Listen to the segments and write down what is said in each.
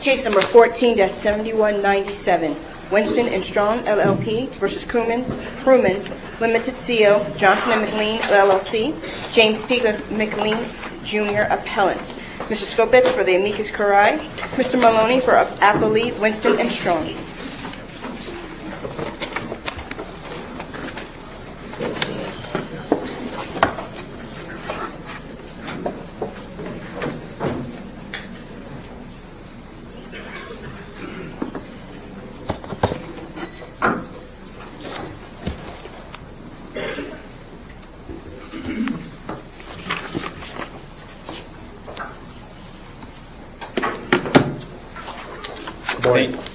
Case No. 14-7197, Winston & Strawn, LLP v. Crumens Ltd C.O. Johnson & McLean, LLC James P. McLean, Jr., Appellant Mr. Skopitz for the amicus curiae Mr. Maloney for Appellee Winston & Strawn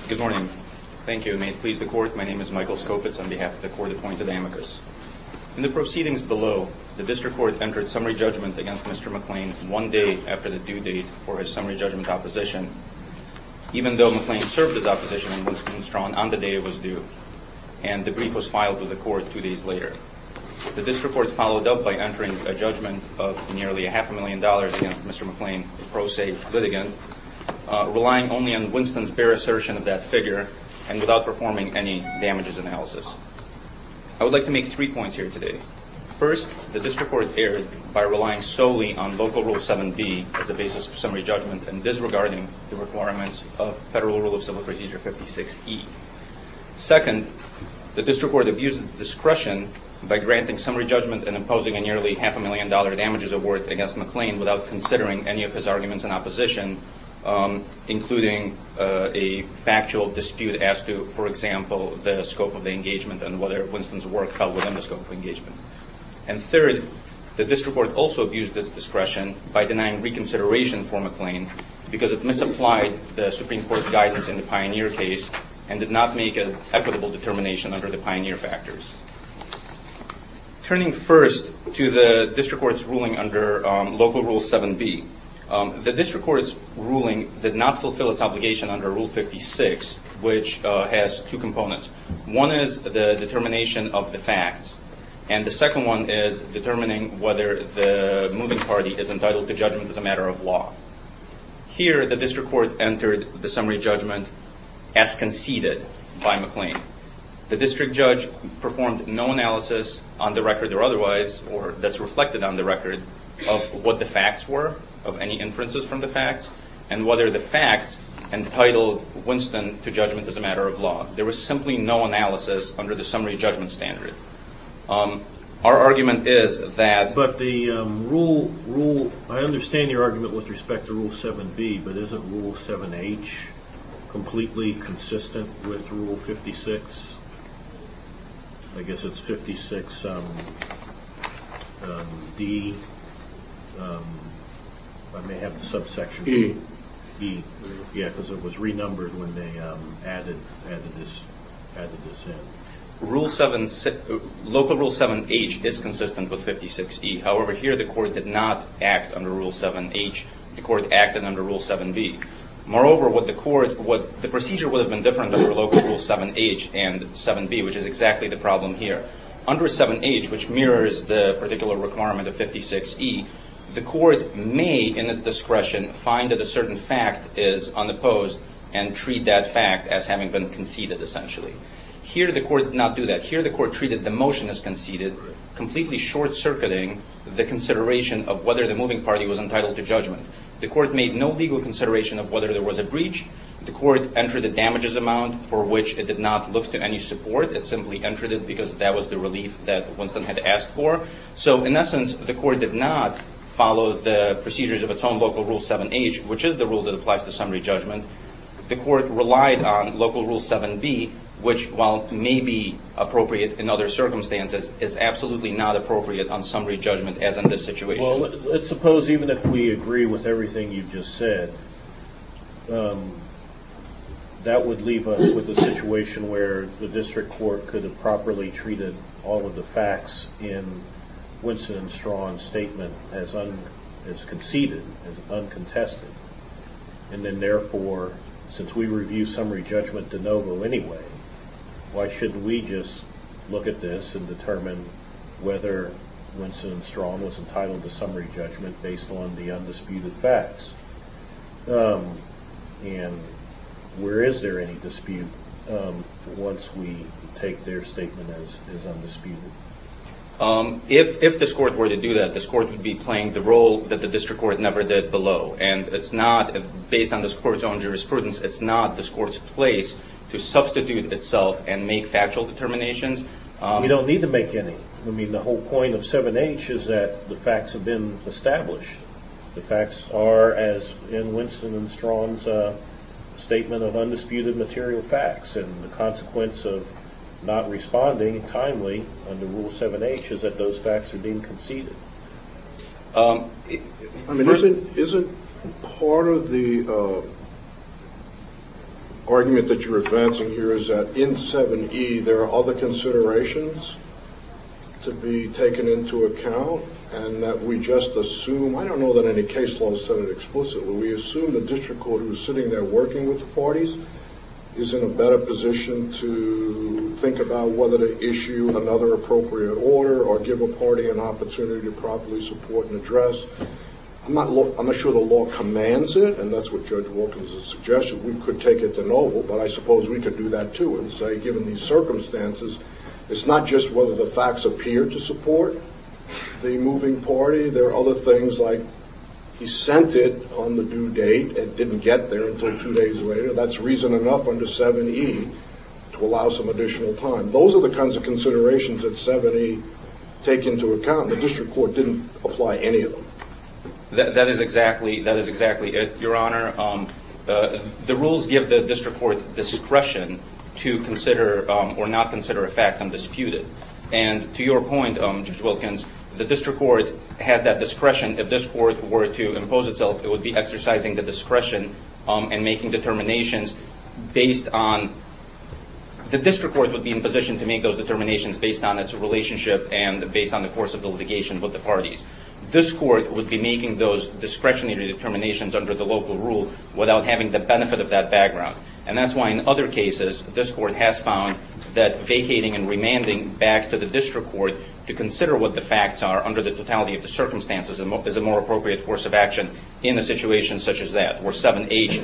Good morning. Thank you. May it please the Court, my name is Michael Skopitz on behalf of the Court of Appointed Amicus. In the proceedings below, the District Court entered summary judgment against Mr. McLean one day after the due date for his summary judgment opposition, even though McLean served his opposition in Winston & Strawn on the day it was due and the brief was filed to the Court two days later. The District Court followed up by entering a judgment of nearly a half a million dollars against Mr. McLean, pro se litigant, relying only on Winston's bare assertion of that figure and without performing any damages analysis. I would like to make three points here today. First, the District Court erred by relying solely on Local Rule 7b as the basis of summary judgment and disregarding the requirements of Federal Rule of Civil Procedure 56e. Second, the District Court abused its discretion by granting summary judgment and imposing a nearly half a million dollar damages award against McLean without considering any of his arguments in opposition, including a factual dispute as to, for example, the scope of the engagement and whether Winston's work fell within the scope of engagement. And third, the District Court also abused its discretion by denying reconsideration for McLean because it misapplied the Supreme Court's guidance in the Pioneer case and did not make an equitable determination under the Pioneer factors. Turning first to the District Court's ruling under Local Rule 7b, the District Court's ruling did not fulfill its obligation under Rule 56, which has two components. One is the determination of the facts, and the second one is determining whether the moving party is entitled to judgment as a matter of law. Here, the District Court entered the summary judgment as conceded by McLean. The District Judge performed no analysis on the record or otherwise, or that's reflected on the record, of what the facts were, of any inferences from the facts, and whether the facts entitled Winston to judgment as a matter of law. There was simply no analysis under the summary judgment standard. Our argument is that... D... I may have the subsection... E. E, yeah, because it was renumbered when they added this in. Local Rule 7h is consistent with 56e. However, here the Court did not act under Rule 7h. The Court acted under Rule 7b. Moreover, the procedure would have been different under Local Rule 7h and 7b, which is exactly the problem here. Under 7h, which mirrors the particular requirement of 56e, the Court may, in its discretion, find that a certain fact is unopposed and treat that fact as having been conceded, essentially. Here, the Court did not do that. Here, the Court treated the motion as conceded, completely short-circuiting the consideration of whether the moving party was entitled to judgment. The Court made no legal consideration of whether there was a breach. The Court entered the damages amount for which it did not look to any support. It simply entered it because that was the relief that Winston had asked for. So, in essence, the Court did not follow the procedures of its own Local Rule 7h, which is the rule that applies to summary judgment. The Court relied on Local Rule 7b, which, while may be appropriate in other circumstances, is absolutely not appropriate on summary judgment, as in this situation. Well, let's suppose, even if we agree with everything you've just said, that would leave us with a situation where the District Court could have properly treated all of the facts in Winston and Straughn's statement as conceded, as uncontested. And then, therefore, since we review summary judgment de novo anyway, why shouldn't we just look at this and determine whether Winston and Straughn was entitled to summary judgment based on the undisputed facts? And where is there any dispute once we take their statement as undisputed? If this Court were to do that, this Court would be playing the role that the District Court never did below. And based on this Court's own jurisprudence, it's not this Court's place to substitute itself and make factual determinations. We don't need to make any. I mean, the whole point of 7h is that the facts have been established. The facts are, as in Winston and Straughn's statement of undisputed material facts, and the consequence of not responding timely under Rule 7h is that those facts are being conceded. I mean, isn't part of the argument that you're advancing here is that in 7e there are other considerations to be taken into account? I don't know that any case law has said it explicitly. We assume the District Court, who is sitting there working with the parties, is in a better position to think about whether to issue another appropriate order or give a party an opportunity to properly support and address. I'm not sure the law commands it, and that's what Judge Wilkins has suggested. We could take it de novo, but I suppose we could do that, too, and say, given these circumstances, it's not just whether the facts appear to support the moving party. There are other things like he sent it on the due date and didn't get there until two days later. That's reason enough under 7e to allow some additional time. Those are the kinds of considerations that 7e take into account. The District Court didn't apply any of them. That is exactly it, Your Honor. The rules give the District Court discretion to consider or not consider a fact undisputed. To your point, Judge Wilkins, the District Court has that discretion. If this Court were to impose itself, it would be exercising the discretion and making determinations based on The District Court would be in position to make those determinations based on its relationship and based on the course of the litigation with the parties. This Court would be making those discretionary determinations under the local rule without having the benefit of that background. That's why in other cases, this Court has found that vacating and remanding back to the District Court to consider what the facts are under the totality of the circumstances is a more appropriate course of action in a situation such as that where 7h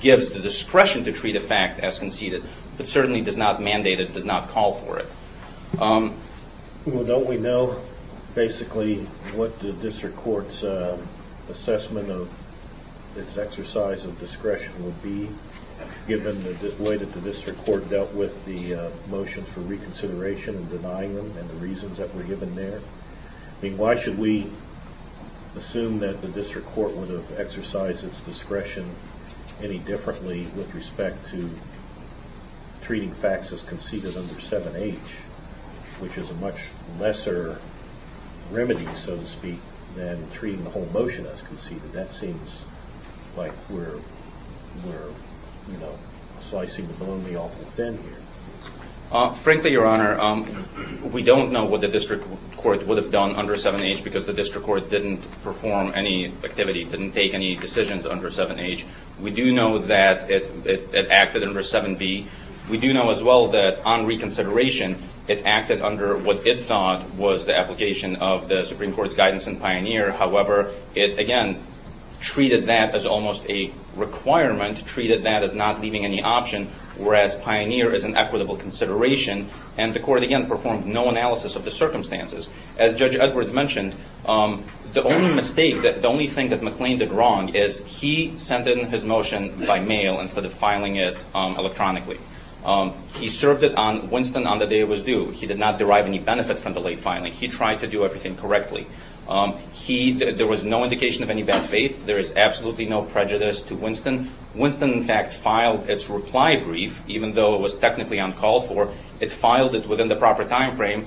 gives the discretion to treat a fact as conceded but certainly does not mandate it, does not call for it. Don't we know basically what the District Court's assessment of its exercise of discretion would be given the way that the District Court dealt with the motions for reconsideration and denying them and the reasons that were given there? I mean, why should we assume that the District Court would have exercised its discretion any differently with respect to treating facts as conceded under 7h, which is a much lesser remedy, so to speak, than treating the whole motion as conceded. That seems like we're slicing the baloney awful thin here. Frankly, Your Honor, we don't know what the District Court would have done under 7h because the District Court didn't perform any activity, didn't take any decisions under 7h. We do know that it acted under 7b. We do know as well that on reconsideration, it acted under what it thought was the application of the Supreme Court's guidance in Pioneer. And the Court, again, performed no analysis of the circumstances. As Judge Edwards mentioned, the only mistake, the only thing that McLean did wrong is he sent in his motion by mail instead of filing it electronically. He served it on Winston on the day it was due. He did not derive any benefit from the late filing. He tried to do everything correctly. There was no indication of any bad faith. There is absolutely no prejudice to Winston. Winston, in fact, filed its reply brief, even though it was technically on call for. It filed it within the proper time frame,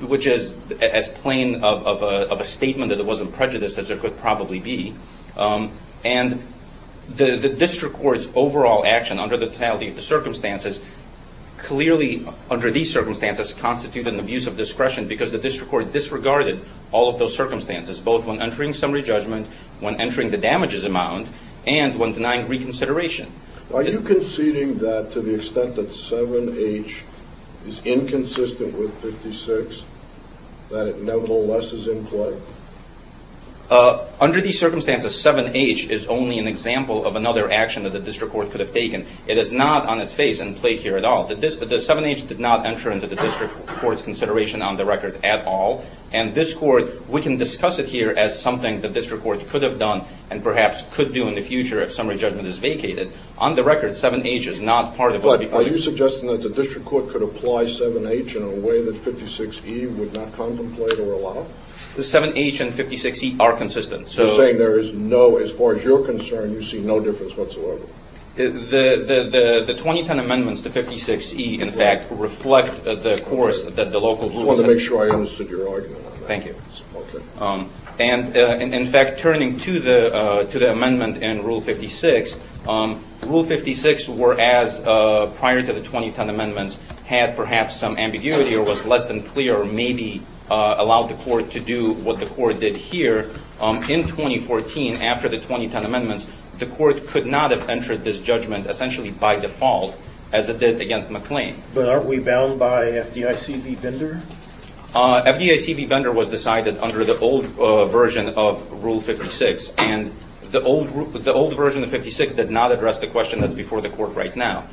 which is as plain of a statement that it wasn't prejudiced as it could probably be. And the District Court's overall action under the totality of the circumstances clearly, under these circumstances, constituted an abuse of discretion because the District Court disregarded all of those circumstances, both when entering summary judgment, when entering the damages amount, and when denying reconsideration. Are you conceding that to the extent that 7h is inconsistent with 56, that it nevertheless is in play? Under these circumstances, 7h is only an example of another action that the District Court could have taken. It is not on its face in play here at all. The 7h did not enter into the District Court's consideration on the record at all. And this Court, we can discuss it here as something the District Court could have done and perhaps could do in the future if summary judgment is vacated. On the record, 7h is not part of it. But are you suggesting that the District Court could apply 7h in a way that 56e would not contemplate or allow? The 7h and 56e are consistent. So you're saying there is no, as far as you're concerned, you see no difference whatsoever? The 2010 amendments to 56e, in fact, reflect the course that the local rules... I just wanted to make sure I understood your argument on that. Thank you. In fact, turning to the amendment in Rule 56, Rule 56, as prior to the 2010 amendments, had perhaps some ambiguity or was less than clear or maybe allowed the Court to do what the Court did here. In 2014, after the 2010 amendments, the Court could not have entered this judgment essentially by default as it did against McLean. But aren't we bound by FDIC v. Bender? FDIC v. Bender was decided under the old version of Rule 56. And the old version of 56 did not address the question that's before the Court right now.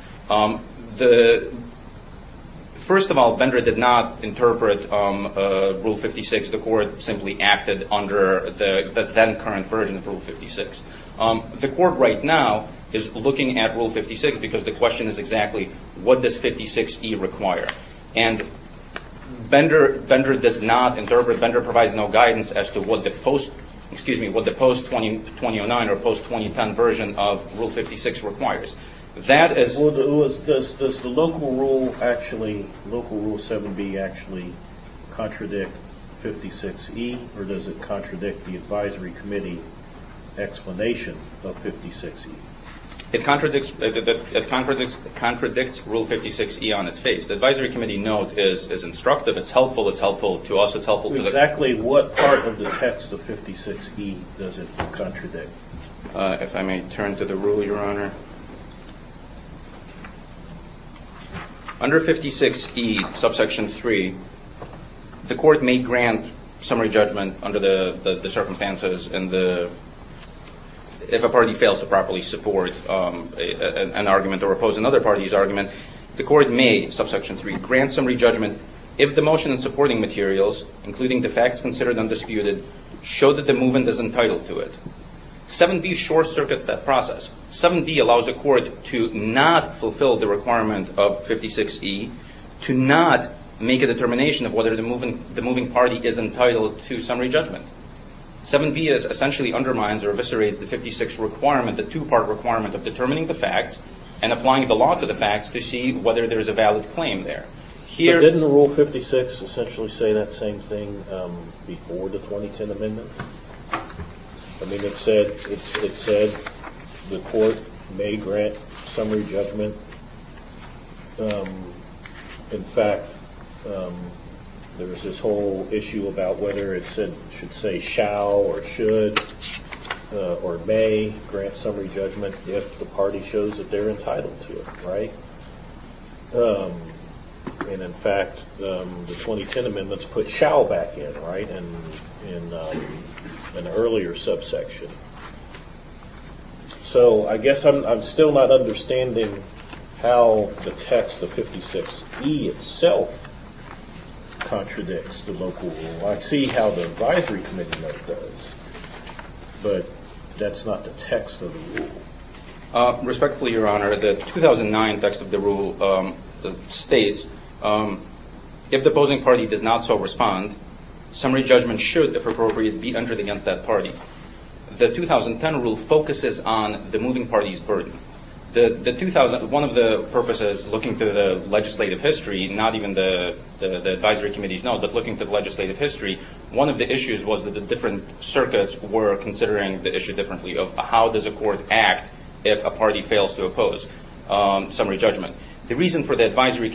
First of all, Bender did not interpret Rule 56. The Court simply acted under the then-current version of Rule 56. The Court right now is looking at Rule 56 because the question is exactly what does 56e require? And Bender does not interpret, Bender provides no guidance as to what the post-2009 or post-2010 version of Rule 56 requires. Does the local Rule 7b actually contradict 56e or does it contradict the Advisory Committee explanation of 56e? It contradicts Rule 56e on its face. The Advisory Committee note is instructive. It's helpful. It's helpful to us. It's helpful to the Court. Exactly what part of the text of 56e does it contradict? If I may turn to the Rule, Your Honor. Under 56e, subsection 3, the Court may grant summary judgment under the circumstances. The Court may, subsection 3, grant summary judgment if the motion and supporting materials, including the facts considered undisputed, show that the movement is entitled to it. 7b short-circuits that process. 7b allows the Court to not fulfill the requirement of 56e, to not make a determination of whether the moving party is entitled to summary judgment. 7b essentially undermines or eviscerates the 56 requirement, the two-part requirement of determining the facts and applying the law to the facts to see whether there is a valid claim there. But didn't Rule 56 essentially say that same thing before the 2010 amendment? I mean, it said the Court may grant summary judgment. In fact, there's this whole issue about whether it should say shall or should or may grant summary judgment if the party shows that they're entitled to it, right? And in fact, the 2010 amendments put shall back in, right, in an earlier subsection. So I guess I'm still not understanding how the text of 56e itself contradicts the local rule. I see how the advisory committee note does, but that's not the text of the rule. Respectfully, Your Honor, the 2009 text of the rule states, if the opposing party does not so respond, summary judgment should, if appropriate, be entered against that party. But the 2010 rule focuses on the moving party's burden. One of the purposes looking to the legislative history, not even the advisory committee's note, but looking to the legislative history, one of the issues was that the different circuits were considering the issue differently of how does a court act if a party fails to oppose summary judgment.